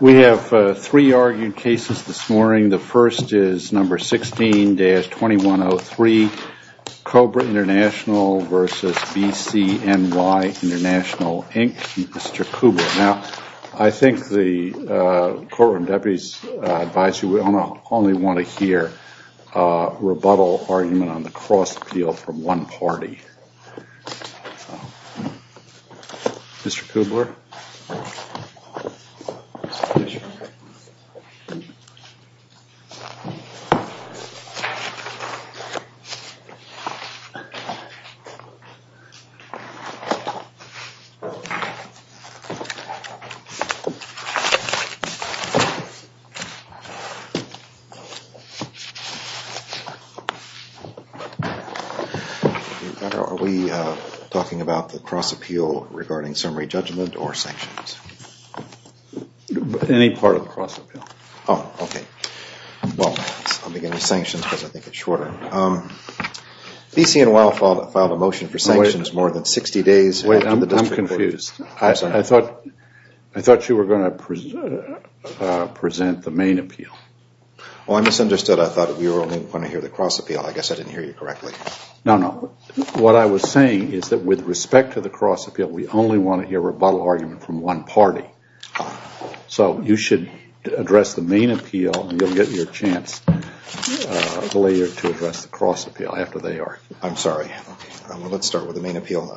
We have three argued cases this morning. The first is number 16-2103, Cobra International v. BCNY International, Inc., Mr. Kubrick. Now, I think the Courtroom Deputies advise you we only want to hear a rebuttal argument on the cross-appeal from one party. Mr. Kudler? Are we talking about the cross-appeal regarding summary judgment or sanctions? Any part of the cross-appeal. Oh, okay. Well, I'll begin with sanctions because I think it's shorter. BCNY filed a motion for sanctions more than 60 days after the District Court. I thought you were going to present the main appeal. Oh, I misunderstood. I thought we were only going to hear the cross-appeal. I guess I didn't hear you correctly. No, no. What I was saying is that with respect to the cross-appeal, we only want to hear a rebuttal argument from one party. So you should address the main appeal and you'll get your chance later to address the cross-appeal after they argue. I'm sorry. Let's start with the main appeal.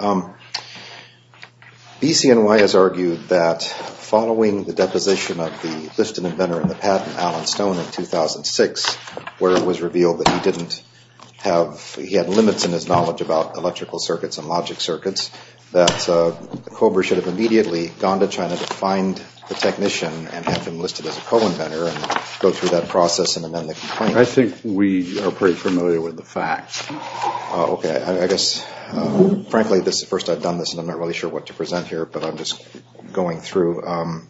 BCNY has argued that following the deposition of the listed inventor in the patent, Alan Stone, in 2006, where it was revealed that he didn't have – he had limits in his knowledge about electrical circuits and logic circuits, that COBRA should have immediately gone to China to find the technician and have him listed as a co-inventor and go through that process and amend the complaint. I think we are pretty familiar with the facts. Okay. I guess – frankly, this is the first time I've done this and I'm not really sure what to present here, but I'm just going through. I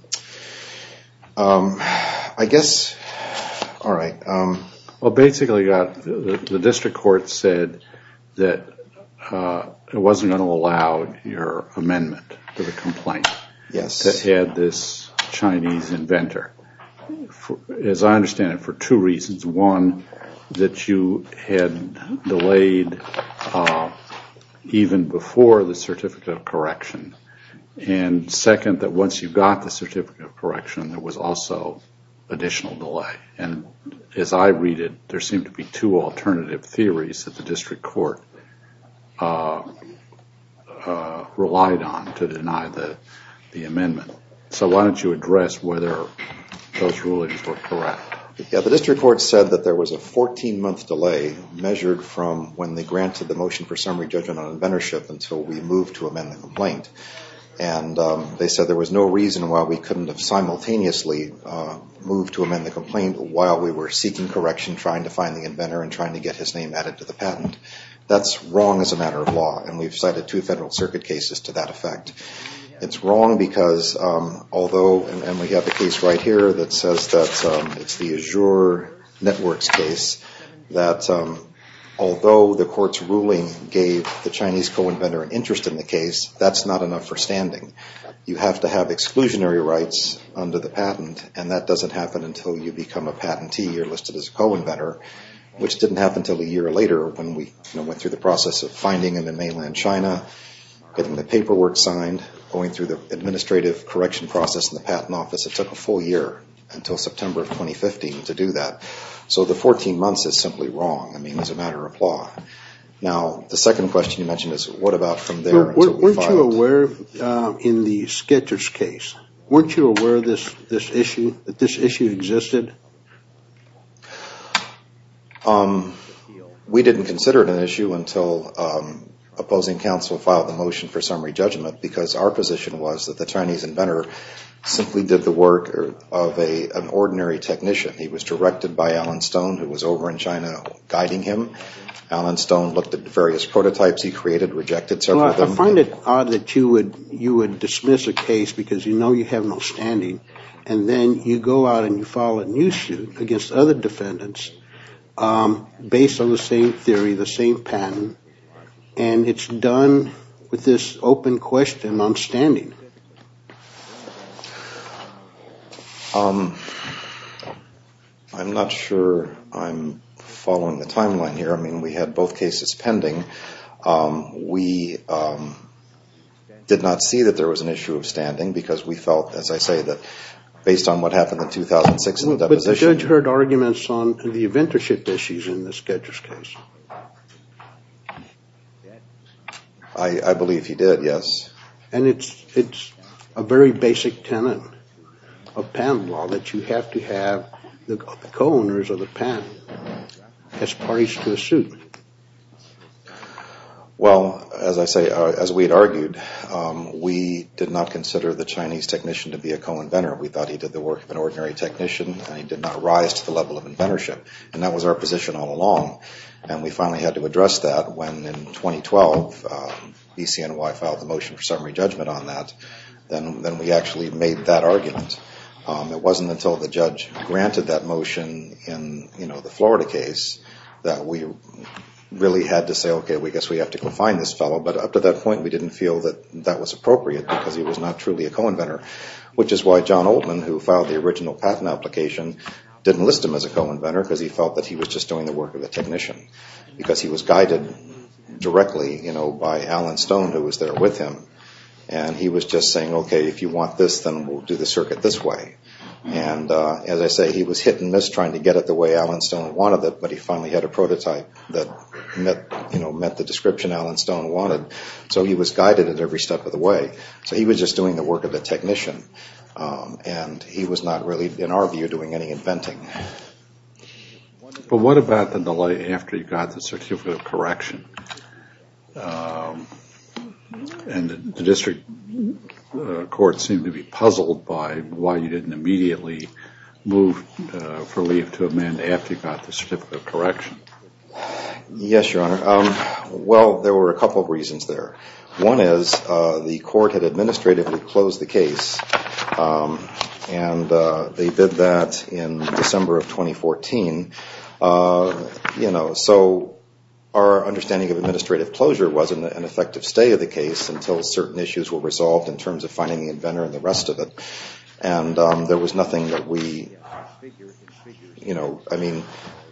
guess – all right. Well, basically, the District Court said that it wasn't going to allow your amendment to the complaint to add this Chinese inventor. As I understand it, for two reasons. One, that you had delayed even before the certificate of correction. And second, that once you got the certificate of correction, there was also additional delay. And as I read it, there seemed to be two alternative theories that the District Court relied on to deny the amendment. So why don't you address whether those rulings were correct? Yeah, the District Court said that there was a 14-month delay measured from when they granted the motion for summary judgment on inventorship until we moved to amend the complaint. And they said there was no reason why we couldn't have simultaneously moved to amend the complaint while we were seeking correction, trying to find the inventor, and trying to get his name added to the patent. That's wrong as a matter of law, and we've cited two Federal Circuit cases to that effect. It's wrong because although, and we have a case right here that says that it's the Azure Networks case, that although the court's ruling gave the Chinese co-inventor an interest in the case, that's not enough for standing. You have to have exclusionary rights under the patent, and that doesn't happen until you become a patentee or listed as a co-inventor, which didn't happen until a year later when we went through the process of finding him in mainland China, getting the paperwork signed, going through the administrative correction process in the patent office. It took a full year until September of 2015 to do that. So the 14 months is simply wrong as a matter of law. Now, the second question you mentioned is what about from there until we filed? Weren't you aware in the Sketchers case, weren't you aware that this issue existed? We didn't consider it an issue until opposing counsel filed the motion for summary judgment because our position was that the Chinese inventor simply did the work of an ordinary technician. He was directed by Alan Stone, who was over in China guiding him. Alan Stone looked at the various prototypes he created, rejected several of them. Well, I find it odd that you would dismiss a case because you know you have no standing, and then you go out and you file a new suit against other defendants based on the same theory, the same patent, and it's done with this open question on standing. I'm not sure I'm following the timeline here. I mean, we had both cases pending. We did not see that there was an issue of standing because we felt, as I say, that based on what happened in 2006 in the deposition. But the judge heard arguments on the inventorship issues in the Sketchers case. I believe he did, yes. And it's a very basic tenet of patent law that you have to have the co-owners of the patent as parties to the suit. Well, as I say, as we had argued, we did not consider the Chinese technician to be a co-inventor. We thought he did the work of an ordinary technician, and he did not rise to the level of inventorship. And that was our position all along. And we finally had to address that when, in 2012, BCNY filed the motion for summary judgment on that. Then we actually made that argument. It wasn't until the judge granted that motion in the Florida case that we really had to say, okay, I guess we have to go find this fellow. But up to that point, we didn't feel that that was appropriate because he was not truly a co-inventor, which is why John Oldman, who filed the original patent application, didn't list him as a co-inventor because he felt that he was just doing the work of a technician because he was guided directly by Alan Stone, who was there with him. And he was just saying, okay, if you want this, then we'll do the circuit this way. And as I say, he was hit and miss trying to get it the way Alan Stone wanted it, but he finally had a prototype that met the description Alan Stone wanted. So he was guided at every step of the way. So he was just doing the work of a technician, and he was not really, in our view, doing any inventing. But what about the delay after you got the certificate of correction? And the district court seemed to be puzzled by why you didn't immediately move for leave to amend after you got the certificate of correction. Yes, Your Honor. Well, there were a couple of reasons there. One is the court had administratively closed the case, and they did that in December of 2014. So our understanding of administrative closure wasn't an effective stay of the case until certain issues were resolved in terms of finding the inventor and the rest of it. And there was nothing that we – I mean,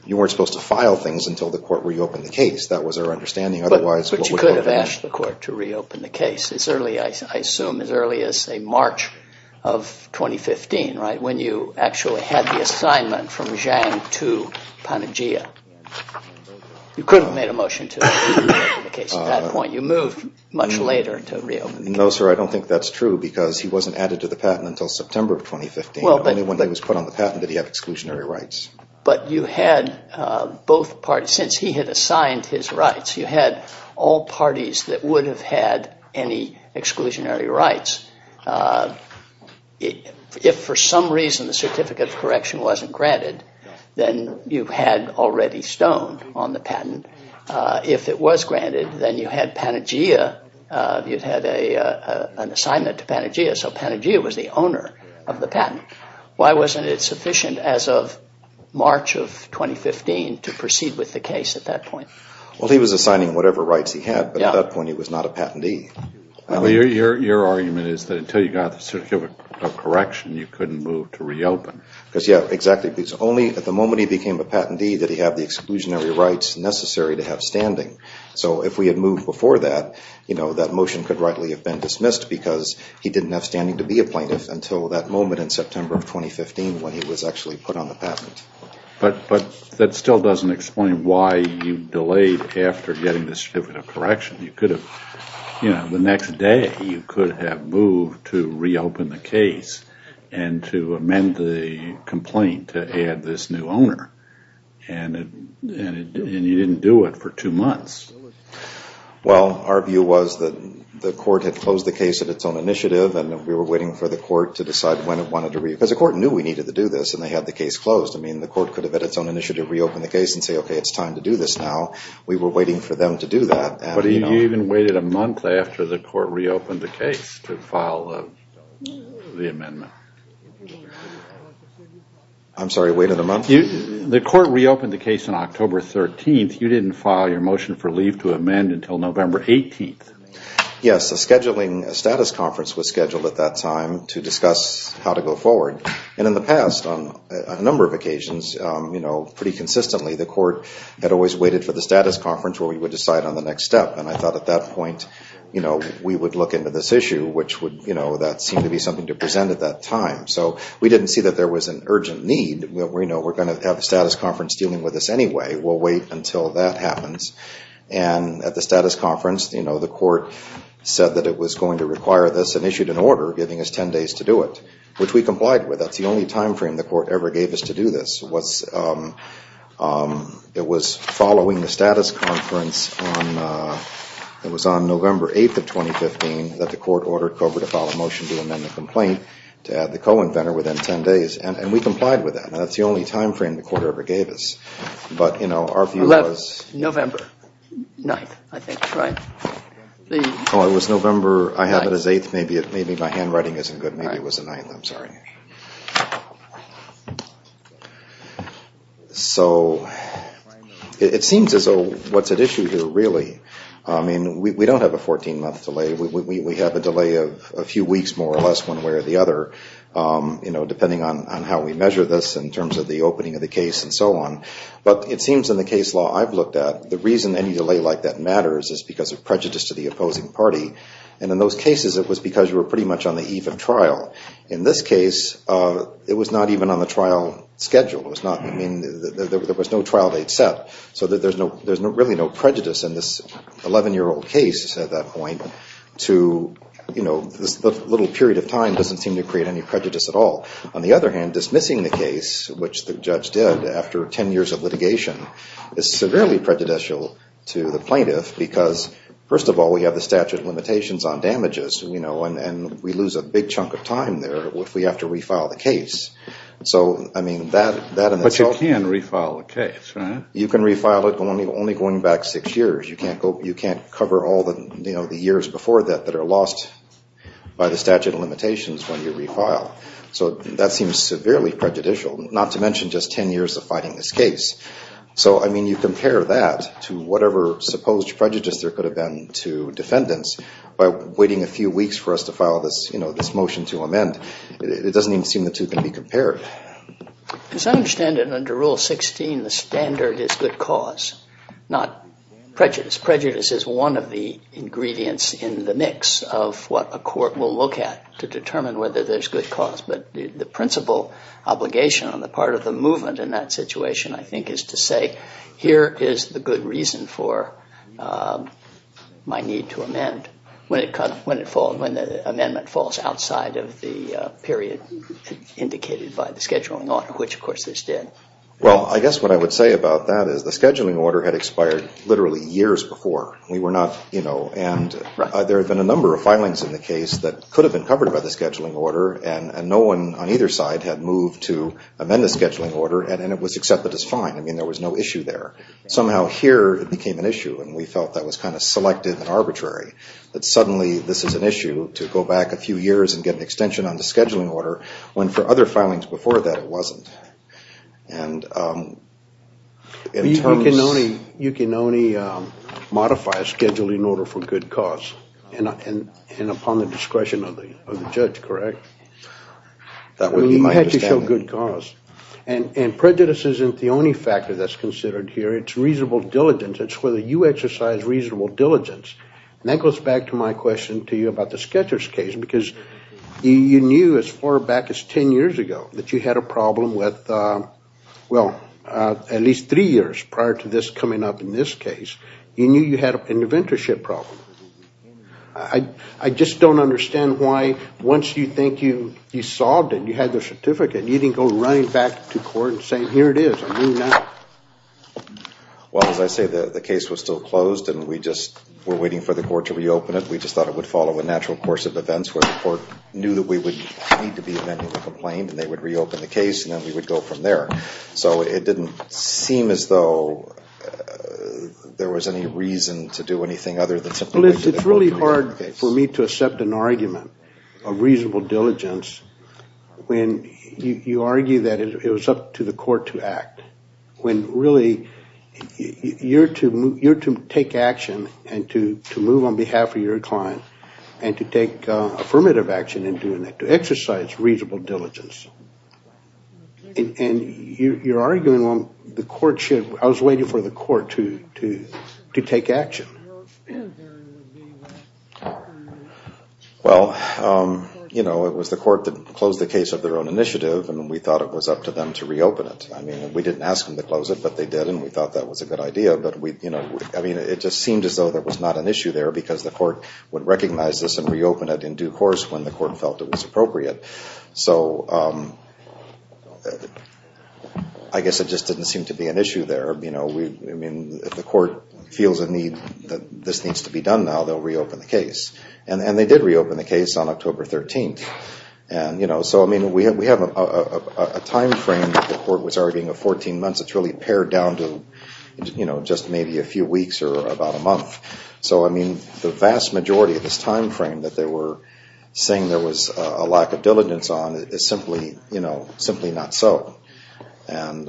you weren't supposed to file things until the court reopened the case. That was our understanding. But you could have asked the court to reopen the case as early – I assume as early as, say, March of 2015, right, when you actually had the assignment from Zhang to Panagia. You could have made a motion to reopen the case at that point. You moved much later to reopen the case. No, sir, I don't think that's true, because he wasn't added to the patent until September of 2015. Only when he was put on the patent did he have exclusionary rights. But you had both parties – since he had assigned his rights, you had all parties that would have had any exclusionary rights. If for some reason the certificate of correction wasn't granted, then you had already stoned on the patent. If it was granted, then you had Panagia – you'd had an assignment to Panagia, so Panagia was the owner of the patent. Why wasn't it sufficient as of March of 2015 to proceed with the case at that point? Well, he was assigning whatever rights he had, but at that point he was not a patentee. Well, your argument is that until you got the certificate of correction, you couldn't move to reopen. Because, yeah, exactly, because only at the moment he became a patentee did he have the exclusionary rights necessary to have standing. So if we had moved before that, you know, that motion could rightly have been dismissed because he didn't have standing to be a plaintiff until that moment in September of 2015 when he was actually put on the patent. But that still doesn't explain why you delayed after getting the certificate of correction. You could have, you know, the next day you could have moved to reopen the case and to amend the complaint to add this new owner. And you didn't do it for two months. Well, our view was that the court had closed the case at its own initiative and we were waiting for the court to decide when it wanted to reopen. Because the court knew we needed to do this and they had the case closed. I mean, the court could have at its own initiative reopened the case and say, okay, it's time to do this now. We were waiting for them to do that. But you even waited a month after the court reopened the case to file the amendment. I'm sorry, waited a month? The court reopened the case on October 13th. You didn't file your motion for leave to amend until November 18th. Yes, a scheduling status conference was scheduled at that time to discuss how to go forward. And in the past on a number of occasions, you know, pretty consistently, the court had always waited for the status conference where we would decide on the next step. And I thought at that point, you know, we would look into this issue, which would, you know, that seemed to be something to present at that time. So we didn't see that there was an urgent need. You know, we're going to have a status conference dealing with this anyway. We'll wait until that happens. And at the status conference, you know, the court said that it was going to require this and issued an order giving us 10 days to do it, which we complied with. That's the only time frame the court ever gave us to do this. It was following the status conference on November 8th of 2015 that the court ordered COBRA to file a motion to amend the complaint to add the co-inventor within 10 days, and we complied with that. And that's the only time frame the court ever gave us. But, you know, our view was. November 9th, I think, right? Oh, it was November, I have it as 8th. Maybe my handwriting isn't good. Maybe it was the 9th. I'm sorry. So it seems as though what's at issue here really, I mean, we don't have a 14-month delay. We have a delay of a few weeks, more or less, one way or the other, you know, depending on how we measure this in terms of the opening of the case and so on. But it seems in the case law I've looked at, the reason any delay like that matters is because of prejudice to the opposing party. And in those cases, it was because you were pretty much on the eve of trial. In this case, it was not even on the trial schedule. I mean, there was no trial date set. So there's really no prejudice in this 11-year-old case at that point to, you know, this little period of time doesn't seem to create any prejudice at all. On the other hand, dismissing the case, which the judge did after 10 years of litigation, is severely prejudicial to the plaintiff because, first of all, we have the statute of limitations on damages, you know, and we lose a big chunk of time there if we have to refile the case. So, I mean, that in itself. But you can refile the case, right? You can refile it only going back six years. You can't cover all the, you know, the years before that that are lost by the statute of limitations when you refile. So that seems severely prejudicial, not to mention just 10 years of fighting this case. So, I mean, you compare that to whatever supposed prejudice there could have been to defendants by waiting a few weeks for us to file this, you know, this motion to amend. It doesn't even seem the two can be compared. As I understand it, under Rule 16, the standard is good cause, not prejudice. Prejudice is one of the ingredients in the mix of what a court will look at to determine whether there's good cause. But the principal obligation on the part of the movement in that situation, I think, is to say here is the good reason for my need to amend when the amendment falls outside of the period indicated by the scheduling order, which, of course, this did. Well, I guess what I would say about that is the scheduling order had expired literally years before. We were not, you know, and there have been a number of filings in the case that could have been covered by the scheduling order, and no one on either side had moved to amend the scheduling order, and it was accepted as fine. I mean, there was no issue there. that suddenly this is an issue to go back a few years and get an extension on the scheduling order when for other filings before that it wasn't. And in terms... You can only modify a scheduling order for good cause and upon the discretion of the judge, correct? That would be my understanding. I mean, you had to show good cause. And prejudice isn't the only factor that's considered here. It's reasonable diligence. It's whether you exercise reasonable diligence. And that goes back to my question to you about the Sketchers case, because you knew as far back as ten years ago that you had a problem with, well, at least three years prior to this coming up in this case. You knew you had an inventorship problem. I just don't understand why once you think you solved it and you had the certificate, you didn't go running back to court and saying, here it is, I'm moving out. Well, as I say, the case was still closed and we just were waiting for the court to reopen it. We just thought it would follow a natural course of events where the court knew that we would need to be amending the complaint and they would reopen the case and then we would go from there. So it didn't seem as though there was any reason to do anything other than simply... Well, it's really hard for me to accept an argument of reasonable diligence when you argue that it was up to the court to act, when really you're to take action and to move on behalf of your client and to take affirmative action in doing that, to exercise reasonable diligence. And you're arguing the court should... I was waiting for the court to take action. Well, it was the court that closed the case of their own initiative and we thought it was up to them to reopen it. I mean, we didn't ask them to close it, but they did and we thought that was a good idea. It just seemed as though there was not an issue there because the court would recognize this and reopen it in due course when the court felt it was appropriate. So I guess it just didn't seem to be an issue there. If the court feels a need that this needs to be done now, they'll reopen the case. And they did reopen the case on October 13th. So we have a time frame that the court was arguing of 14 months. It's really pared down to just maybe a few weeks or about a month. So the vast majority of this time frame that they were saying there was a lack of diligence on is simply not so. And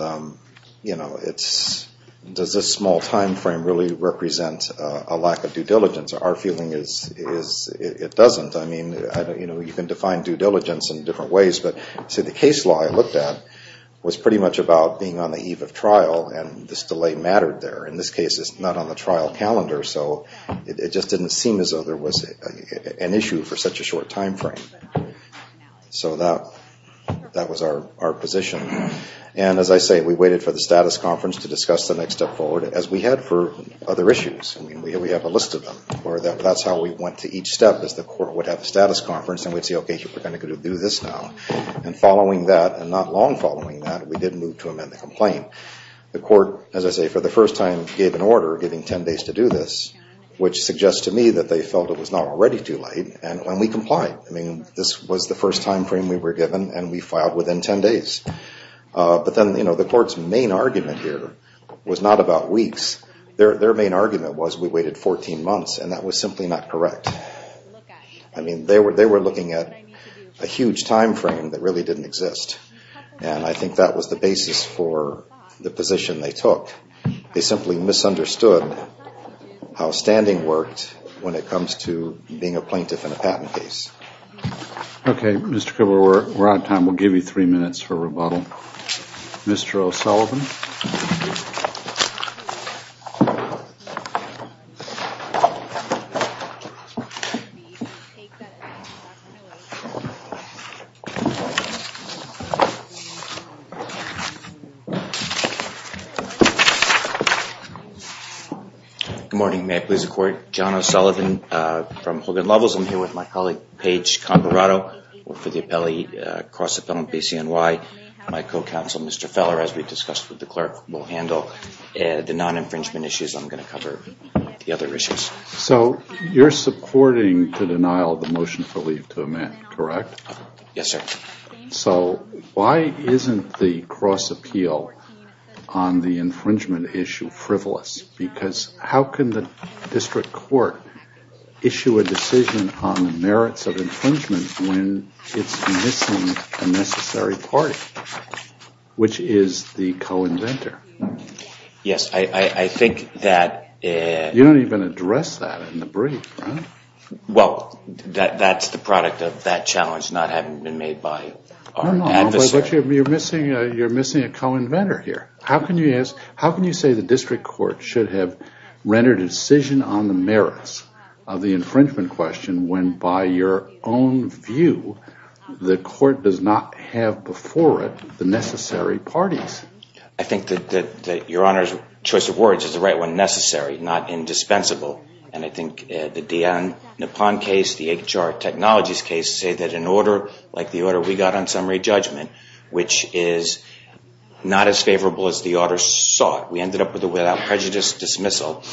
does this small time frame really represent a lack of due diligence? Our feeling is it doesn't. I mean, you can define due diligence in different ways, but the case law I looked at was pretty much about being on the eve of trial and this delay mattered there. In this case, it's not on the trial calendar, so it just didn't seem as though there was an issue for such a short time frame. So that was our position. And as I say, we waited for the status conference to discuss the next step forward, as we had for other issues. I mean, we have a list of them. That's how we went to each step is the court would have a status conference and we'd say, okay, we're going to do this now. And following that, and not long following that, we did move to amend the complaint. The court, as I say, for the first time gave an order giving 10 days to do this, which suggests to me that they felt it was not already too late. And we complied. I mean, this was the first time frame we were given, and we filed within 10 days. But then, you know, the court's main argument here was not about weeks. Their main argument was we waited 14 months, and that was simply not correct. I mean, they were looking at a huge time frame that really didn't exist, and I think that was the basis for the position they took. They simply misunderstood how standing worked when it comes to being a plaintiff in a patent case. Okay, Mr. Cooper, we're out of time. We'll give you three minutes for rebuttal. Mr. O'Sullivan. Good morning. May I please record? John O'Sullivan from Hogan Levels. I'm here with my colleague, Paige Converato, for the cross-appellant PCNY. My co-counsel, Mr. Feller, as we discussed with the clerk, will handle the non-infringement issues. I'm going to cover the other issues. So you're supporting the denial of the motion for leave to amend, correct? Yes, sir. So why isn't the cross-appeal on the infringement issue frivolous? Because how can the district court issue a decision on the merits of infringement when it's missing a necessary party, which is the co-inventor? Yes, I think that— You don't even address that in the brief, right? Well, that's the product of that challenge not having been made by our adversary. No, but you're missing a co-inventor here. How can you say the district court should have rendered a decision on the merits of the infringement question when, by your own view, the court does not have before it the necessary parties? I think that Your Honor's choice of words is the right one, necessary, not indispensable. And I think the D.N. Nippon case, the HR Technologies case, say that an order like the order we got on summary judgment, which is not as favorable as the order sought. We ended up with a without prejudice dismissal,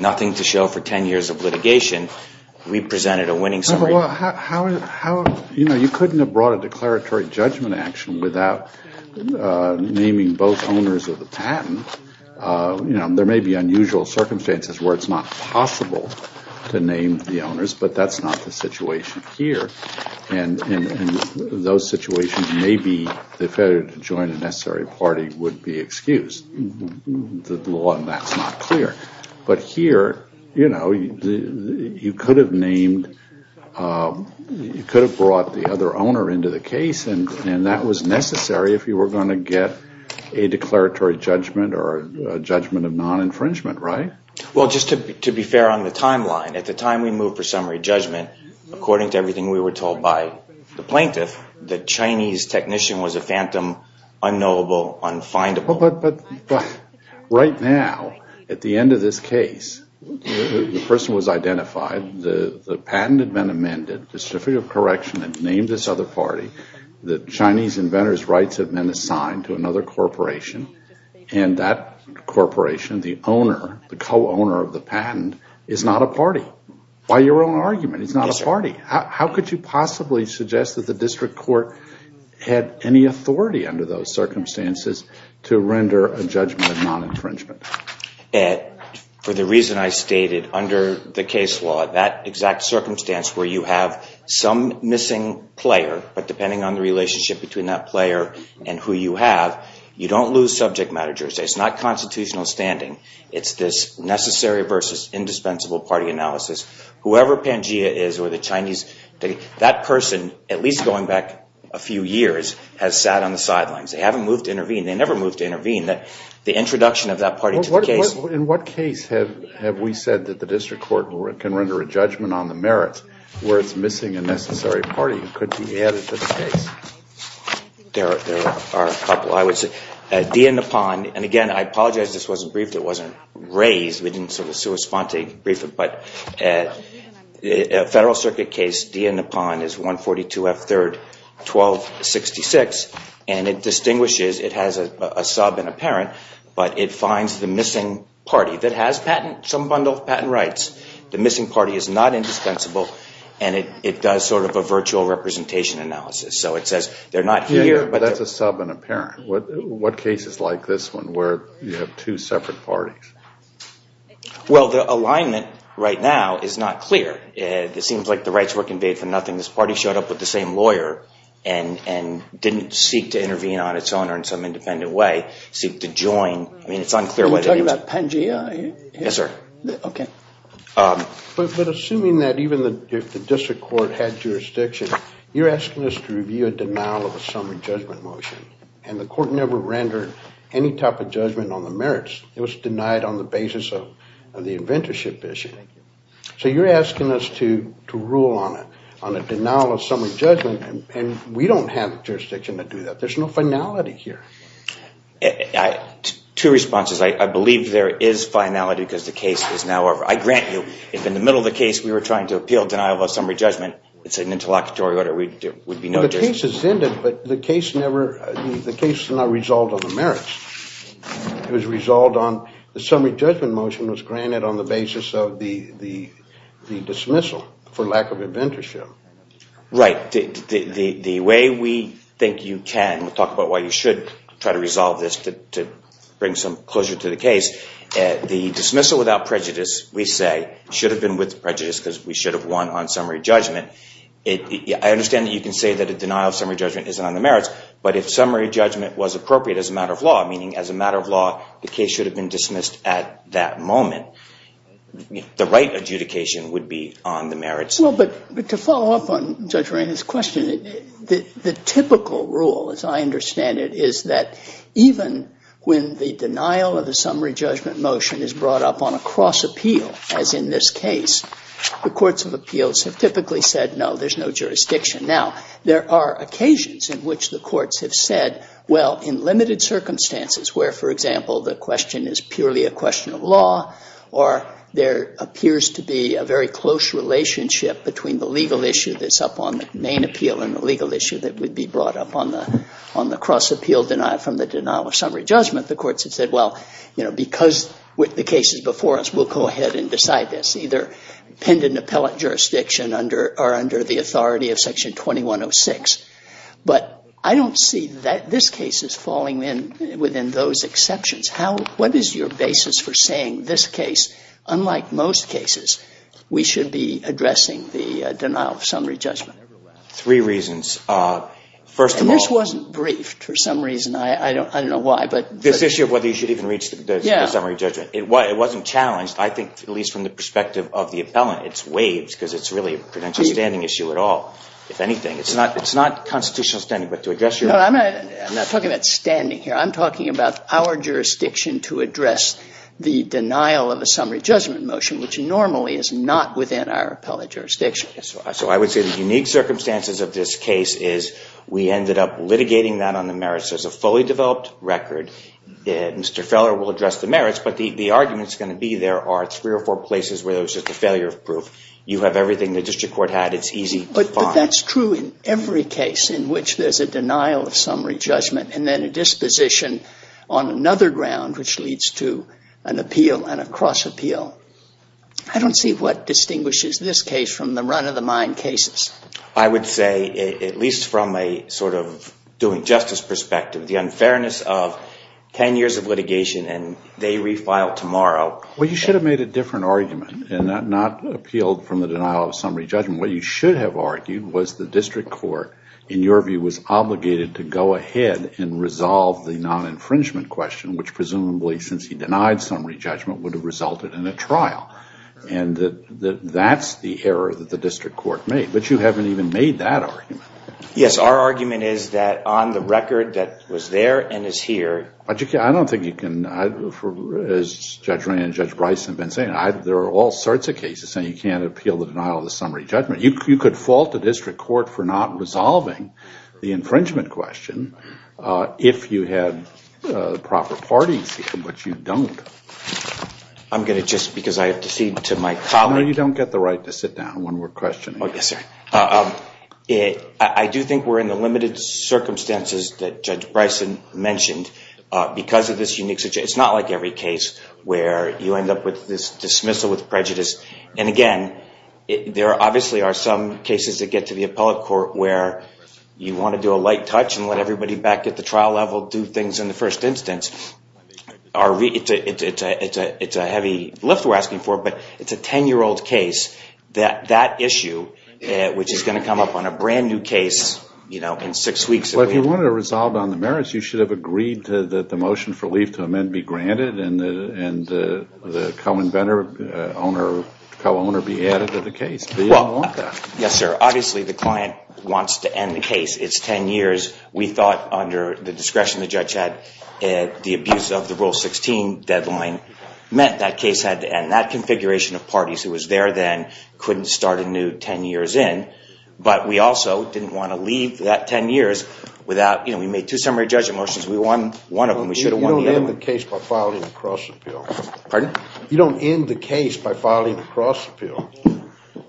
nothing to show for 10 years of litigation. We presented a winning summary. How—you know, you couldn't have brought a declaratory judgment action without naming both owners of the patent. You know, there may be unusual circumstances where it's not possible to name the owners, but that's not the situation here. And in those situations, maybe the failure to join a necessary party would be excused. The law on that's not clear. But here, you know, you could have named—you could have brought the other owner into the case, and that was necessary if you were going to get a declaratory judgment or a judgment of non-infringement, right? Well, just to be fair on the timeline, at the time we moved for summary judgment, according to everything we were told by the plaintiff, the Chinese technician was a phantom, unknowable, unfindable. But right now, at the end of this case, the person was identified, the patent had been amended, the certificate of correction had been named this other party, the Chinese inventor's rights had been assigned to another corporation, and that corporation, the owner, the co-owner of the patent, is not a party. By your own argument, it's not a party. How could you possibly suggest that the district court had any authority under those circumstances to render a judgment of non-infringement? For the reason I stated, under the case law, that exact circumstance where you have some missing player, but depending on the relationship between that player and who you have, you don't lose subject matter jurisdiction. It's not constitutional standing. It's this necessary versus indispensable party analysis. Whoever Pangaea is or the Chinese—that person, at least going back a few years, has sat on the sidelines. They haven't moved to intervene. They never moved to intervene. The introduction of that party to the case— In what case have we said that the district court can render a judgment on the merits where it's missing a necessary party that could be added to the case? There are a couple. I would say Dia Napan—and, again, I apologize this wasn't briefed. It wasn't raised. We didn't sort of correspond to brief it. But a Federal Circuit case, Dia Napan is 142F3-1266, and it distinguishes—it has a sub and a parent, but it finds the missing party that has some bundle of patent rights. The missing party is not indispensable, and it does sort of a virtual representation analysis. So it says they're not here, but— Yeah, yeah, but that's a sub and a parent. What cases like this one where you have two separate parties? Well, the alignment right now is not clear. It seems like the rights were conveyed for nothing. This party showed up with the same lawyer and didn't seek to intervene on its own or in some independent way, seek to join. I mean, it's unclear whether it was— Are you talking about Pangaea? Yes, sir. Okay. But assuming that even if the district court had jurisdiction, you're asking us to review a denial of a summary judgment motion, and the court never rendered any type of judgment on the merits. It was denied on the basis of the inventorship issue. So you're asking us to rule on it, on a denial of summary judgment, and we don't have jurisdiction to do that. There's no finality here. Two responses. I believe there is finality because the case is now over. I grant you if in the middle of the case we were trying to appeal denial of a summary judgment, it's an interlocutory order. There would be no jurisdiction. The case is ended, but the case never—the case is not resolved on the merits. It was resolved on—the summary judgment motion was granted on the basis of the dismissal for lack of inventorship. Right. The way we think you can talk about why you should try to resolve this to bring some closure to the case, the dismissal without prejudice, we say, should have been with prejudice because we should have won on summary judgment. I understand that you can say that a denial of summary judgment isn't on the merits, but if summary judgment was appropriate as a matter of law, meaning as a matter of law, the case should have been dismissed at that moment, the right adjudication would be on the merits. Well, but to follow up on Judge Reina's question, the typical rule, as I understand it, is that even when the denial of the summary judgment motion is brought up on a cross appeal, as in this case, the courts of appeals have typically said, no, there's no jurisdiction. Now, there are occasions in which the courts have said, well, in limited circumstances, where, for example, the question is purely a question of law or there appears to be a very close relationship between the legal issue that's up on the main appeal and the legal issue that would be brought up on the cross appeal denial from the denial of summary judgment, the courts have said, well, you know, because the case is before us, we'll go ahead and decide this, it's either pinned in appellate jurisdiction or under the authority of Section 2106. But I don't see this case as falling within those exceptions. What is your basis for saying this case, unlike most cases, we should be addressing the denial of summary judgment? Three reasons. First of all... And this wasn't briefed for some reason. I don't know why, but... This issue of whether you should even reach the summary judgment, it wasn't challenged, I think, at least from the perspective of the appellant. It's waived because it's really a credential standing issue at all, if anything. It's not constitutional standing, but to address your... No, I'm not talking about standing here. I'm talking about our jurisdiction to address the denial of a summary judgment motion, which normally is not within our appellate jurisdiction. So I would say the unique circumstances of this case is we ended up litigating that on the merits. There's a fully developed record. Mr. Feller will address the merits, but the argument is going to be there are three or four places where there's just a failure of proof. You have everything the district court had. It's easy to find. But that's true in every case in which there's a denial of summary judgment, and then a disposition on another ground, which leads to an appeal and a cross appeal. I don't see what distinguishes this case from the run-of-the-mind cases. I would say, at least from a sort of doing justice perspective, the unfairness of ten years of litigation and they refile tomorrow. Well, you should have made a different argument and not appealed from the denial of summary judgment. What you should have argued was the district court, in your view, was obligated to go ahead and resolve the non-infringement question, which presumably, since he denied summary judgment, would have resulted in a trial. And that's the error that the district court made. But you haven't even made that argument. Yes, our argument is that on the record that was there and is here. I don't think you can, as Judge Rand and Judge Bryson have been saying, there are all sorts of cases saying you can't appeal the denial of the summary judgment. You could fault the district court for not resolving the infringement question if you had proper parties, but you don't. I'm going to just, because I have to cede to my colleague. No, you don't get the right to sit down when we're questioning. I do think we're in the limited circumstances that Judge Bryson mentioned because of this unique situation. It's not like every case where you end up with this dismissal with prejudice. And again, there obviously are some cases that get to the appellate court where you want to do a light touch and let everybody back at the trial level do things in the first instance. It's a heavy lift we're asking for, but it's a 10-year-old case. That issue, which is going to come up on a brand new case in six weeks. Well, if you wanted to resolve on the merits, you should have agreed that the motion for leave to amend be granted and the co-inventor, co-owner be added to the case. But you don't want that. Yes, sir. Obviously, the client wants to end the case. It's 10 years. We thought under the discretion the judge had, the abuse of the Rule 16 deadline meant that case had to end. And that configuration of parties who was there then couldn't start a new 10 years in. But we also didn't want to leave that 10 years without, you know, we made two summary judgment motions. We won one of them. We should have won the other one. You don't end the case by filing a cross-appeal. Pardon? You don't end the case by filing a cross-appeal.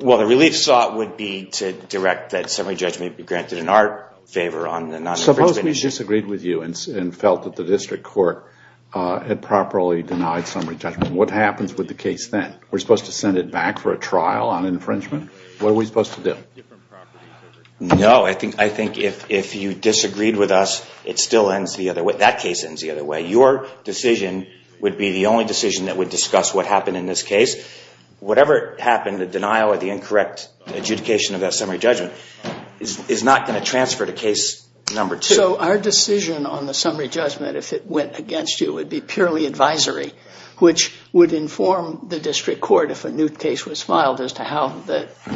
Well, the relief sought would be to direct that summary judgment be granted in our favor on the non-infringement issue. Suppose we disagreed with you and felt that the district court had properly denied summary judgment. What happens with the case then? We're supposed to send it back for a trial on infringement? What are we supposed to do? No, I think if you disagreed with us, it still ends the other way. That case ends the other way. Your decision would be the only decision that would discuss what happened in this case. Whatever happened, the denial or the incorrect adjudication of that summary judgment is not going to transfer to case number two. So our decision on the summary judgment, if it went against you, would be purely advisory, which would inform the district court if a new case was filed as to how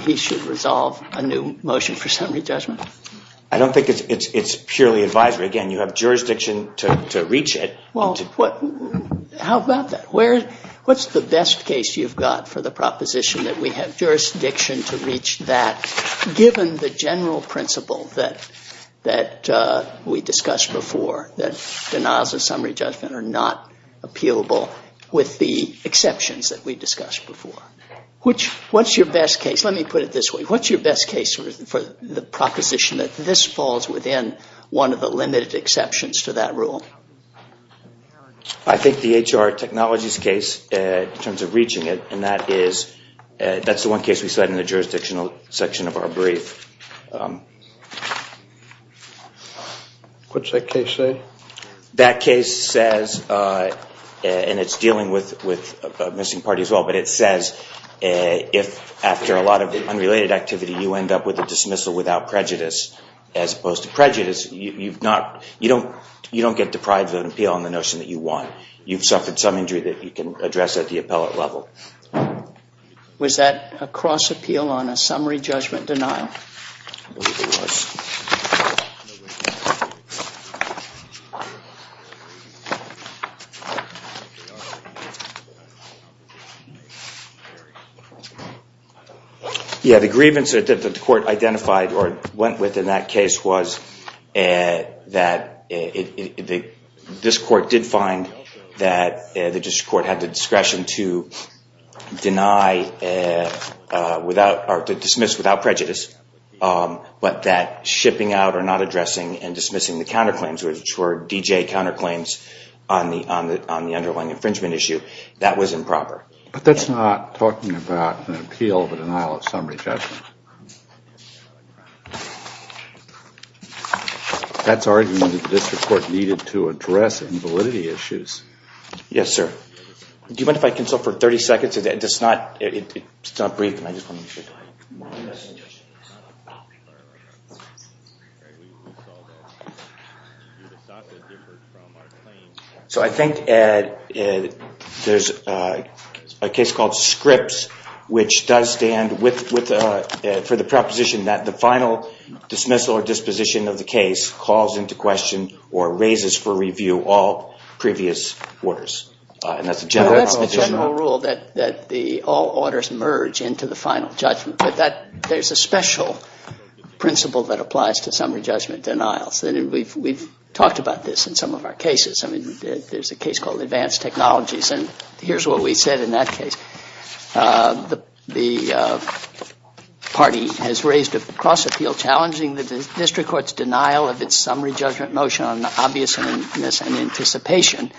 he should resolve a new motion for summary judgment? I don't think it's purely advisory. Again, you have jurisdiction to reach it. Well, how about that? What's the best case you've got for the proposition that we have jurisdiction to reach that, given the general principle that we discussed before, that denials of summary judgment are not appealable with the exceptions that we discussed before? What's your best case? Let me put it this way. What's your best case for the proposition that this falls within one of the limited exceptions to that rule? I think the HR technologies case, in terms of reaching it, that's the one case we said in the jurisdictional section of our brief. What's that case say? That case says, and it's dealing with a missing party as well, but it says if, after a lot of unrelated activity, you end up with a dismissal without prejudice, as opposed to prejudice, you don't get deprived of an appeal on the notion that you won. You've suffered some injury that you can address at the appellate level. Was that a cross appeal on a summary judgment denial? I believe it was. Yeah, the grievance that the court identified or went with in that case was that this court did find that the district court had the discretion to deny or to dismiss without prejudice, but that shipping out or not addressing and dismissing the counterclaims, which were D.J. counterclaims on the underlying infringement issue, that was improper. But that's not talking about an appeal of a denial of summary judgment. That's arguing that the district court needed to address invalidity issues. Yes, sir. Do you mind if I consult for 30 seconds? It's not brief. So I think there's a case called Scripps, which does stand for the proposition that the final dismissal or disposition of the case calls into question or raises for review all previous orders. That's the general rule that all orders merge into the final judgment, but there's a special principle that applies to summary judgment denials. We've talked about this in some of our cases. I mean, there's a case called Advanced Technologies, and here's what we said in that case. The party has raised a cross appeal challenging the district court's denial of its summary judgment motion on obviousness and anticipation.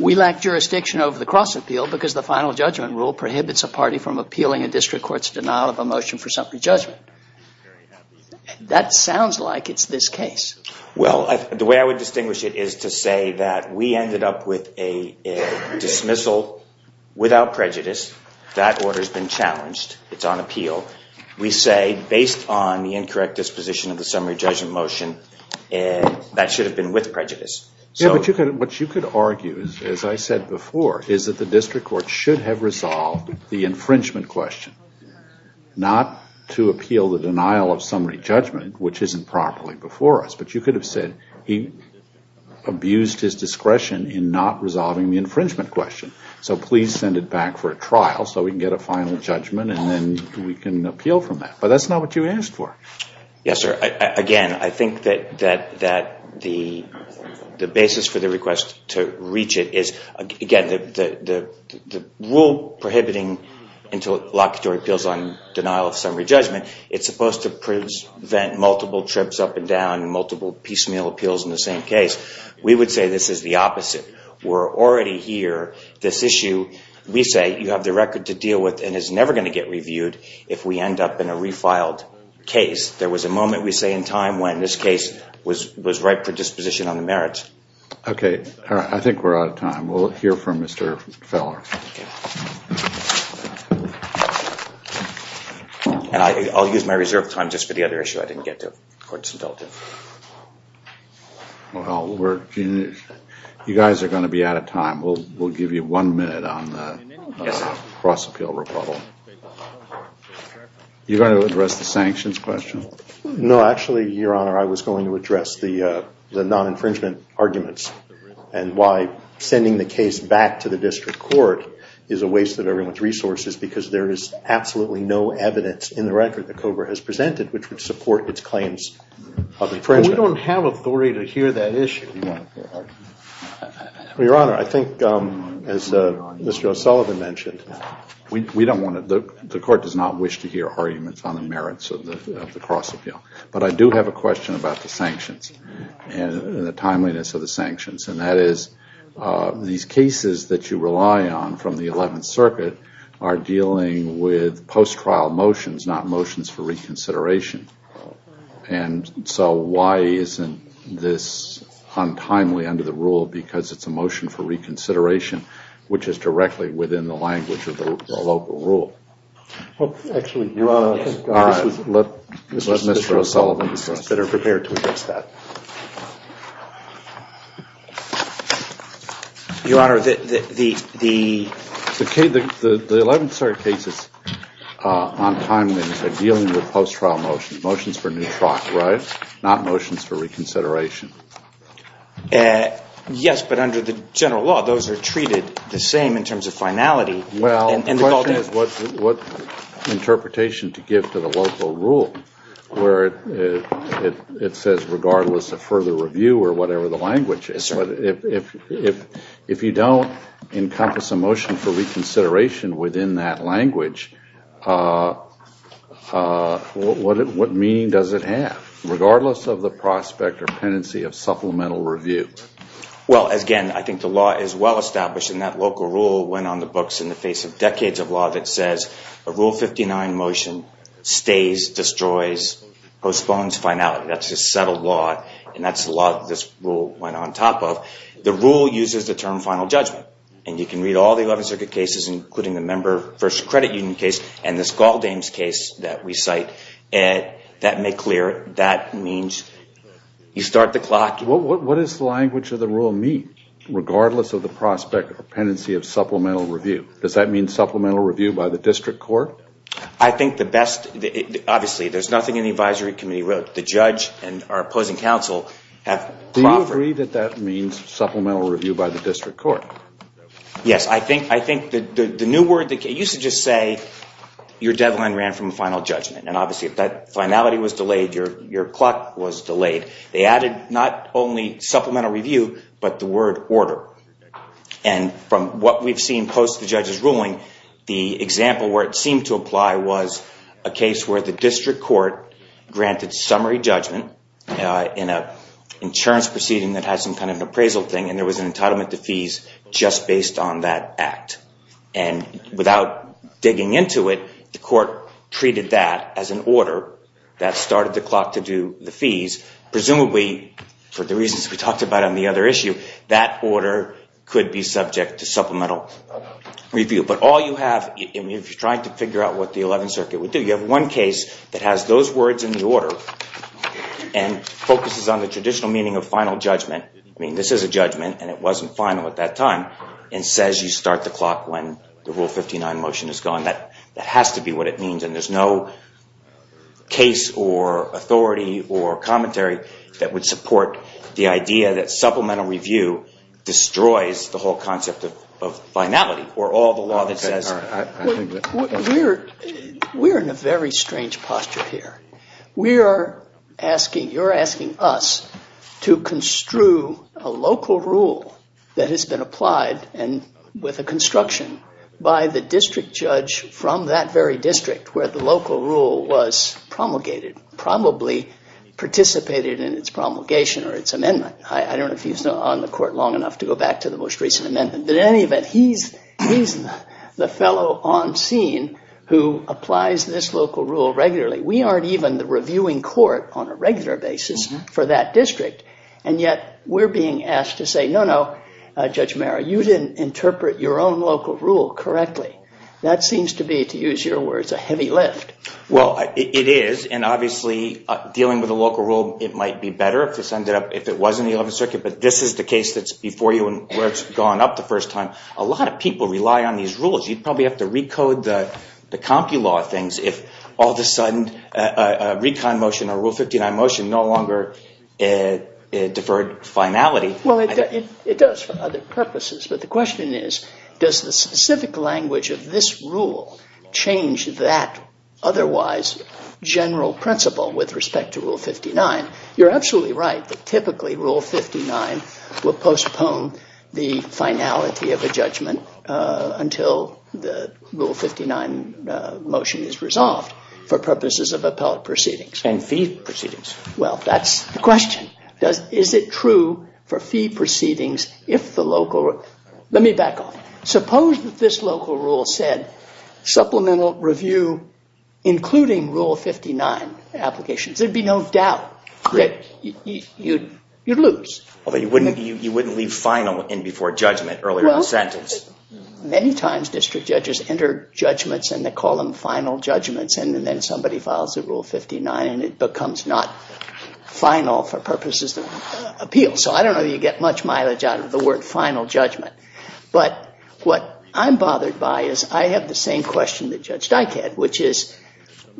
We lack jurisdiction over the cross appeal because the final judgment rule prohibits a party from appealing a district court's denial of a motion for summary judgment. That sounds like it's this case. Well, the way I would distinguish it is to say that we ended up with a dismissal without prejudice. That order's been challenged. It's on appeal. We say, based on the incorrect disposition of the summary judgment motion, that should have been with prejudice. Yeah, but what you could argue, as I said before, is that the district court should have resolved the infringement question, not to appeal the denial of summary judgment, which isn't properly before us. But you could have said he abused his discretion in not resolving the infringement question, so please send it back for a trial so we can get a final judgment, and then we can appeal from that. But that's not what you asked for. Yes, sir. Again, I think that the basis for the request to reach it is, again, the rule prohibiting interlocutory appeals on denial of summary judgment, it's supposed to prevent multiple trips up and down and multiple piecemeal appeals in the same case. We would say this is the opposite. We're already here. This issue, we say, you have the record to deal with and is never going to get reviewed if we end up in a refiled case. There was a moment, we say, in time when this case was ripe for disposition on the merits. Okay. I think we're out of time. We'll hear from Mr. Feller. I'll use my reserve time just for the other issue I didn't get to. Courts indulgent. Well, you guys are going to be out of time. We'll give you one minute on the cross-appeal rebuttal. You're going to address the sanctions question? No, actually, Your Honor, I was going to address the non-infringement arguments and why sending the case back to the district court is a waste of everyone's resources because there is absolutely no evidence in the record that COBRA has presented which would support its claims of infringement. We don't have authority to hear that issue. Well, Your Honor, I think as Mr. O'Sullivan mentioned, the court does not wish to hear arguments on the merits of the cross-appeal. But I do have a question about the sanctions and the timeliness of the sanctions, and that is these cases that you rely on from the Eleventh Circuit are dealing with post-trial motions, not motions for reconsideration. And so why isn't this untimely under the rule because it's a motion for reconsideration, which is directly within the language of the local rule? Well, actually, Your Honor, I think this was Mr. O'Sullivan's question. Your Honor, the Eleventh Circuit cases on timeliness are dealing with post-trial motions, motions for new trot, right? Not motions for reconsideration. Yes, but under the general law, those are treated the same in terms of finality. Well, the question is what interpretation to give to the local rule where it says regardless of further review or whatever the language is, if you don't encompass a motion for reconsideration within that language, what meaning does it have, regardless of the prospect or tendency of supplemental review? Well, again, I think the law is well established, and that local rule went on the books in the face of decades of law that says a Rule 59 motion stays, destroys, postpones finality. That's a settled law, and that's the law that this rule went on top of. The rule uses the term final judgment, and you can read all the Eleventh Circuit cases, including the Member First Credit Union case and this Galdames case that we cite. That may clear it. That means you start the clock. What does the language of the rule mean, regardless of the prospect or tendency of supplemental review? Does that mean supplemental review by the district court? I think the best, obviously, there's nothing in the Advisory Committee where the judge and our opposing counsel have proffered. Do you agree that that means supplemental review by the district court? Yes. I think the new word, it used to just say your deadline ran from final judgment, and obviously if that finality was delayed, your clock was delayed. They added not only supplemental review, but the word order. And from what we've seen post the judge's ruling, the example where it seemed to apply was a case where the district court granted summary judgment in an insurance proceeding that has some kind of appraisal thing, and there was an entitlement to fees just based on that act. And without digging into it, the court treated that as an order that started the clock to do the fees, presumably for the reasons we talked about on the other issue, that order could be subject to supplemental review. But all you have, if you're trying to figure out what the 11th Circuit would do, you have one case that has those words in the order and focuses on the traditional meaning of final judgment. I mean, this is a judgment, and it wasn't final at that time, and says you start the clock when the Rule 59 motion is gone. That has to be what it means, and there's no case or authority or commentary that would support the idea that supplemental review destroys the whole concept of finality, or all the law that says... We're in a very strange posture here. You're asking us to construe a local rule that has been applied and with a construction by the district judge from that very district where the local rule was promulgated, probably participated in its promulgation or its amendment. I don't know if he was on the court long enough to go back to the most recent amendment, but in any event, he's the fellow on scene who applies this local rule regularly. We aren't even the reviewing court on a regular basis for that district, and yet we're being asked to say, no, no, Judge Marra, you didn't interpret your own local rule correctly. That seems to be, to use your words, a heavy lift. Well, it is, and obviously, dealing with a local rule, it might be better if it was in the 11th Circuit, but this is the case that's before you and where it's gone up the first time. A lot of people rely on these rules. You'd probably have to recode the Compki law things if all of a sudden a recon motion or Rule 59 motion no longer deferred finality. Well, it does for other purposes, but the question is, does the specific language of this rule change that otherwise general principle with respect to Rule 59? You're absolutely right that typically Rule 59 will postpone the finality of a judgment until the Rule 59 motion is resolved for purposes of appellate proceedings. And fee proceedings. Well, that's the question. Is it true for fee proceedings if the local... Let me back off. Suppose that this local rule said supplemental review including Rule 59 applications. There'd be no doubt that you'd lose. Although you wouldn't leave final in before judgment earlier in the sentence. Many times district judges enter judgments and they call them final judgments and then somebody files a Rule 59 and it becomes not final for purposes of appeal. So I don't know that you get much mileage out of the word final judgment. But what I'm bothered by is I have the same question that Judge Dike had, which is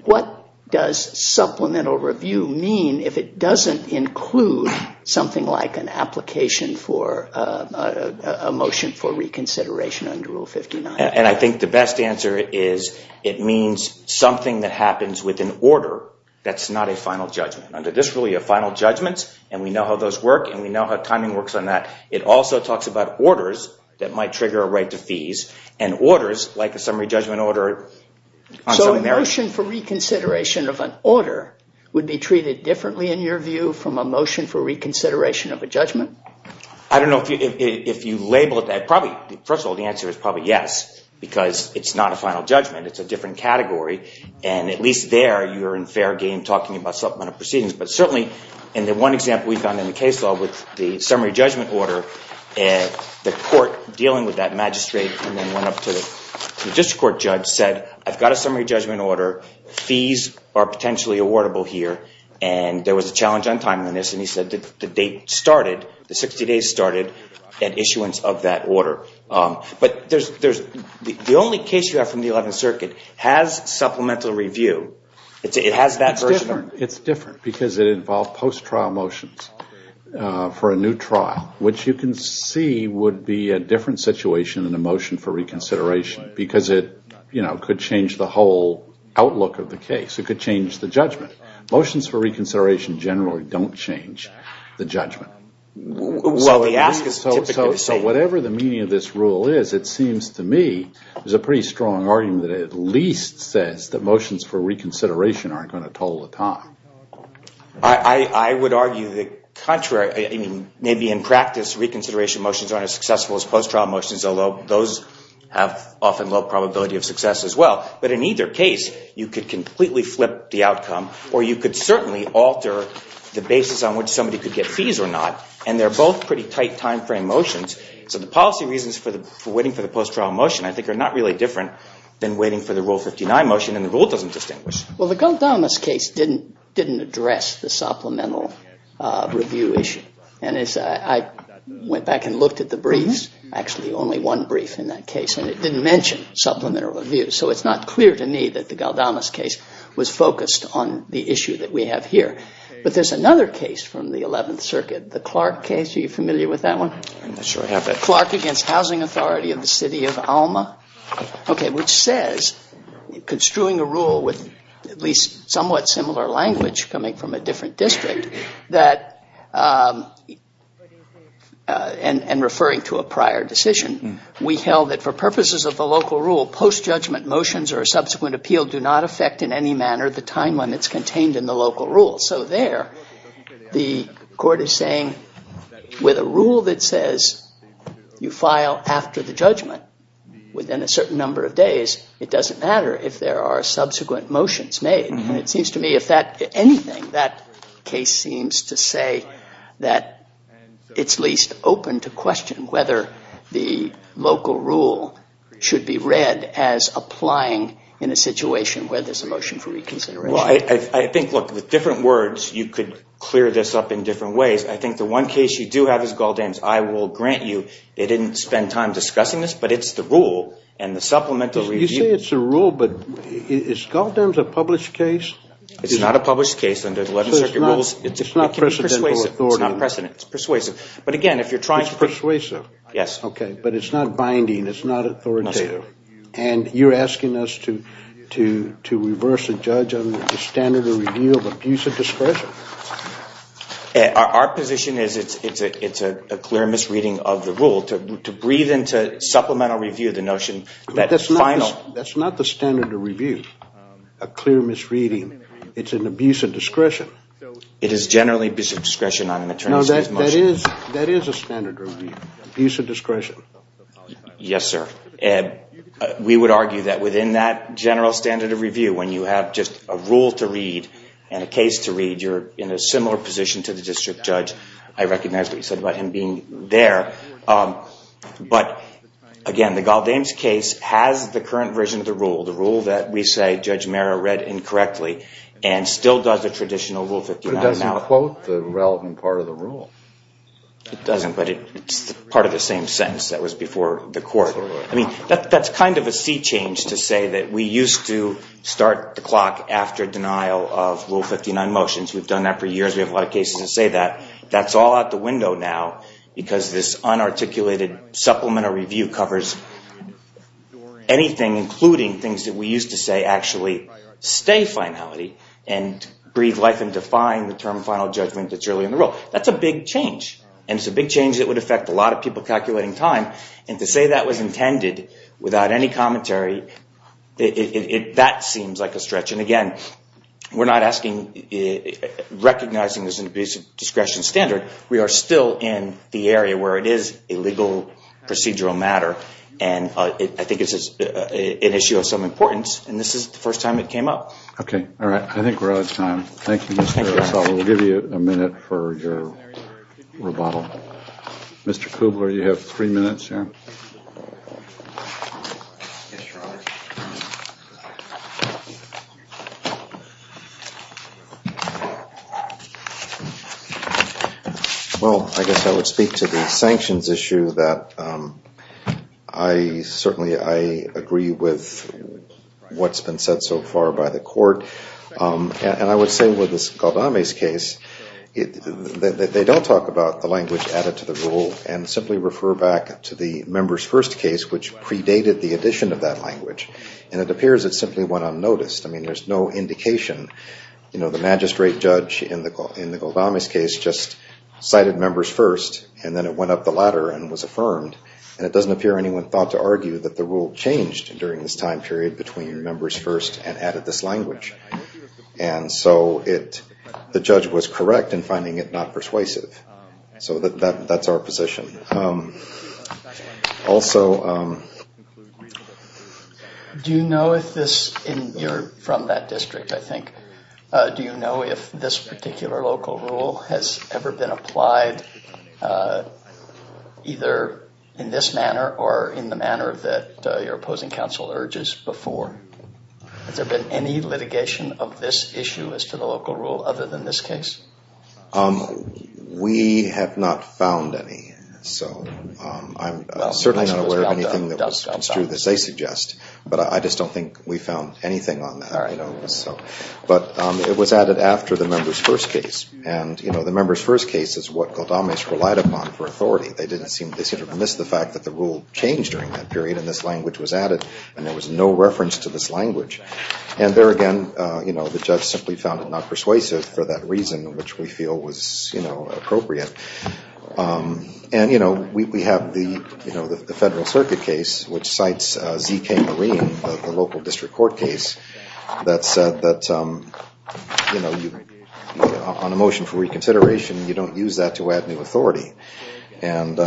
what does supplemental review mean if it doesn't include something like an application for a motion for reconsideration under Rule 59? And I think the best answer is it means something that happens with an order that's not a final judgment. Under this rule, you have final judgments and we know how those work and we know how timing works on that. It also talks about orders that might trigger a right to fees and orders like a summary judgment order... A motion for reconsideration of an order would be treated differently in your view from a motion for reconsideration of a judgment? I don't know if you label it that. First of all, the answer is probably yes because it's not a final judgment. It's a different category and at least there you're in fair game talking about supplemental proceedings. But certainly in the one example we found in the case law with the summary judgment order, the court dealing with that magistrate and then went up to the district court judge said, I've got a summary judgment order, fees are potentially awardable here, and there was a challenge on timeliness and he said the date started, the 60 days started at issuance of that order. But the only case you have from the 11th Circuit has supplemental review. It has that version. It's different because it involved post-trial motions for a new trial, which you can see would be a different situation than a motion for reconsideration because it could change the whole outlook of the case. It could change the judgment. Motions for reconsideration generally don't change the judgment. So whatever the meaning of this rule is, it seems to me, there's a pretty strong argument that it at least says that motions for reconsideration aren't going to toll the time. I would argue the contrary. Maybe in practice reconsideration motions aren't as successful as post-trial motions, although those have often low probability of success as well. But in either case, you could completely flip the outcome or you could certainly alter the basis on which somebody could get fees or not, and they're both pretty tight timeframe motions. So the policy reasons for waiting for the post-trial motion, I think, are not really different than waiting for the Rule 59 motion, and the rule doesn't distinguish. Well, the Guantanamo case didn't address the supplemental review issue. I went back and looked at the briefs, actually only one brief in that case, and it didn't mention supplemental review. So it's not clear to me that the Galdamas case was focused on the issue that we have here. But there's another case from the 11th Circuit, the Clark case. Are you familiar with that one? Clark against Housing Authority of the City of Alma, which says construing a rule with at least somewhat similar language coming from a different district and referring to a prior decision. We held that for purposes of the local rule, post-judgment motions or a subsequent appeal do not affect in any manner the time limits contained in the local rule. So there the court is saying with a rule that says you file after the judgment within a certain number of days, it doesn't matter if there are subsequent motions made. And it seems to me if anything, that case seems to say that it's least open to question whether the local rule should be read as applying in a situation where there's a motion for reconsideration. Well, I think, look, with different words you could clear this up in different ways. I think the one case you do have is Galdamas. I will grant you they didn't spend time discussing this, but it's the rule and the supplemental review. I say it's a rule, but is Galdamas a published case? It's not a published case under the 11th Circuit rules. It's not precedent. It's persuasive. But again, if you're trying to. It's persuasive. Yes. Okay, but it's not binding. It's not authoritative. And you're asking us to reverse the judge on the standard of review of abuse of discretion? Our position is it's a clear misreading of the rule to breathe into supplemental review the notion that final. That's not the standard of review, a clear misreading. It's an abuse of discretion. It is generally abuse of discretion on an attorney's case motion. No, that is a standard review, abuse of discretion. Yes, sir. We would argue that within that general standard of review, when you have just a rule to read and a case to read, you're in a similar position to the district judge. I recognize what you said about him being there. But again, the Galdames case has the current version of the rule, the rule that we say Judge Marra read incorrectly and still does the traditional Rule 59. But it doesn't quote the relevant part of the rule. It doesn't, but it's part of the same sentence that was before the court. I mean, that's kind of a sea change to say that we used to start the clock after denial of Rule 59 motions. We've done that for years. We have a lot of cases that say that. That's all out the window now, because this unarticulated supplemental review covers anything, including things that we used to say actually stay finality and breathe life into defying the term final judgment that's really in the rule. That's a big change. And it's a big change that would affect a lot of people calculating time. Again, we're not asking, recognizing this in the basic discretion standard. We are still in the area where it is a legal procedural matter, and I think it's an issue of some importance, and this is the first time it came up. Okay. All right. I think we're out of time. Thank you, Mr. Russell. We'll give you a minute for your rebuttal. Mr. Kubler, you have three minutes here. Well, I guess I would speak to the sanctions issue. Certainly I agree with what's been said so far by the court, and I would say with this Galdame's case, they don't talk about the language added to the rule which predated the addition of that language, and it appears it simply went unnoticed. I mean, there's no indication. You know, the magistrate judge in the Galdame's case just cited members first, and then it went up the ladder and was affirmed, and it doesn't appear anyone thought to argue that the rule changed during this time period between members first and added this language. And so the judge was correct in finding it not persuasive. So that's our position. Also. Do you know if this, and you're from that district, I think, do you know if this particular local rule has ever been applied either in this manner or in the manner that your opposing counsel urges before? Has there been any litigation of this issue as to the local rule other than this case? We have not found any. So I'm certainly not aware of anything that was construed as they suggest, but I just don't think we found anything on that. But it was added after the members first case, and the members first case is what Galdame's relied upon for authority. They didn't seem to miss the fact that the rule changed during that period and this language was added and there was no reference to this language. And there again, the judge simply found it not persuasive for that reason, which we feel was appropriate. And we have the Federal Circuit case, which cites Z.K. Marine, the local district court case, that said that on a motion for reconsideration, you don't use that to add new authority. And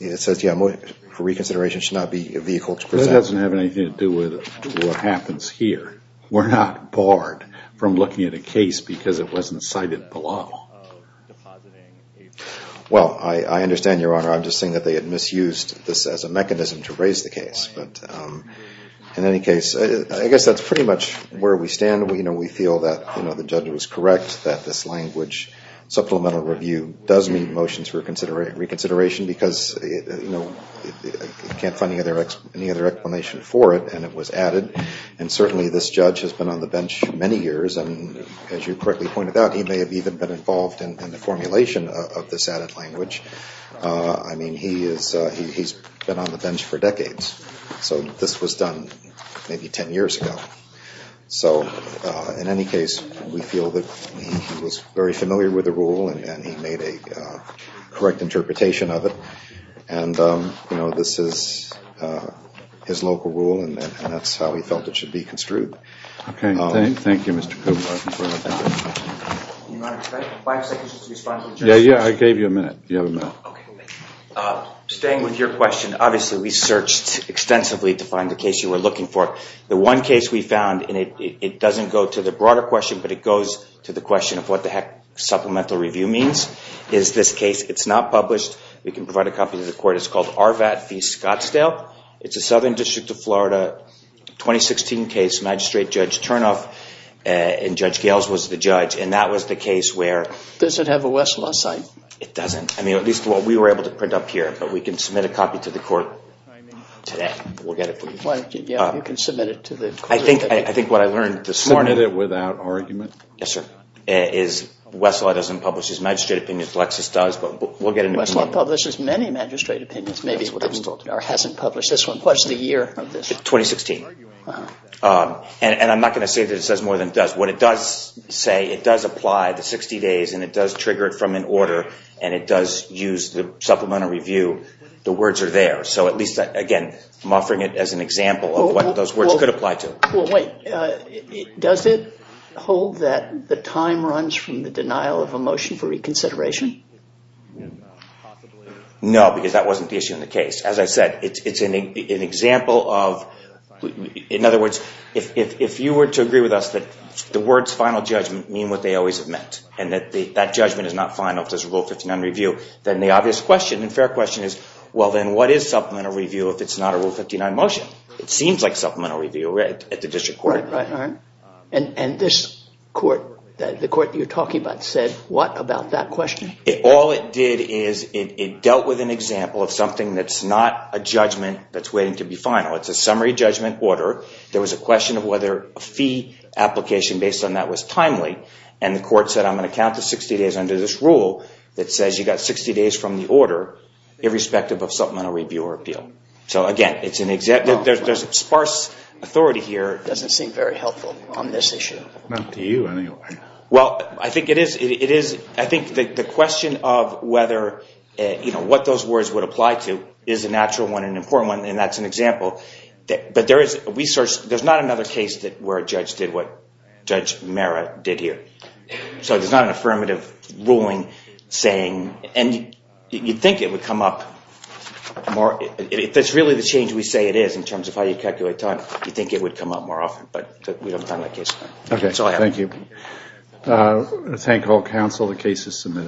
it says, yeah, for reconsideration, it should not be a vehicle to present. That doesn't have anything to do with what happens here. We're not barred from looking at a case because it wasn't cited below. Well, I understand, Your Honor. I'm just saying that they had misused this as a mechanism to raise the case. But in any case, I guess that's pretty much where we stand. We feel that the judge was correct, that this language, supplemental review, does need motions for reconsideration because, you know, I can't find any other explanation for it, and it was added. And certainly this judge has been on the bench many years, and as you correctly pointed out, he may have even been involved in the formulation of this added language. I mean, he's been on the bench for decades. So this was done maybe 10 years ago. So in any case, we feel that he was very familiar with the rule and he made a correct interpretation of it. And, you know, this is his local rule, and that's how he felt it should be construed. Okay. Thank you, Mr. Cooper. Your Honor, can I have five seconds just to respond to the judge? Yeah, yeah. I gave you a minute. You have a minute. Okay. Staying with your question, obviously we searched extensively to find the case you were looking for. The one case we found, and it doesn't go to the broader question, but it goes to the question of what the heck supplemental review means. It's this case. It's not published. We can provide a copy to the court. It's called RVAT v. Scottsdale. It's a Southern District of Florida 2016 case. Magistrate Judge Turnoff and Judge Gales was the judge, and that was the case where – Does it have a Westlaw site? It doesn't. I mean, at least what we were able to print up here. But we can submit a copy to the court today. We'll get it for you. Yeah, you can submit it to the court. I think what I learned this morning – Yes, sir. – is Westlaw doesn't publish his magistrate opinion. Lexis does, but we'll get an opinion. Westlaw publishes many magistrate opinions. Maybe it hasn't published this one. What's the year of this? 2016. And I'm not going to say that it says more than it does. What it does say, it does apply the 60 days, and it does trigger it from an order, and it does use the supplemental review. The words are there. So at least, again, I'm offering it as an example of what those words could apply to. Well, wait. Does it hold that the time runs from the denial of a motion for reconsideration? No, because that wasn't the issue in the case. As I said, it's an example of – in other words, if you were to agree with us that the words final judgment mean what they always have meant and that that judgment is not final if there's a Rule 59 review, then the obvious question and fair question is, well, then what is supplemental review if it's not a Rule 59 motion? It seems like supplemental review at the district court. Right, right. And this court, the court you're talking about, said what about that question? All it did is it dealt with an example of something that's not a judgment that's waiting to be final. It's a summary judgment order. There was a question of whether a fee application based on that was timely, and the court said I'm going to count the 60 days under this rule that says you've got 60 days from the order irrespective of supplemental review or appeal. So, again, it's an – there's sparse authority here. It doesn't seem very helpful on this issue. Not to you, anyway. Well, I think it is – I think the question of whether – what those words would apply to is a natural one and an important one, and that's an example. But there is research. There's not another case where a judge did what Judge Mehra did here. So there's not an affirmative ruling saying – and you'd think it would come up more – that's really the change we say it is in terms of how you calculate time. You'd think it would come up more often, but we haven't done that case. Okay, thank you. Thank all counsel. The case is submitted.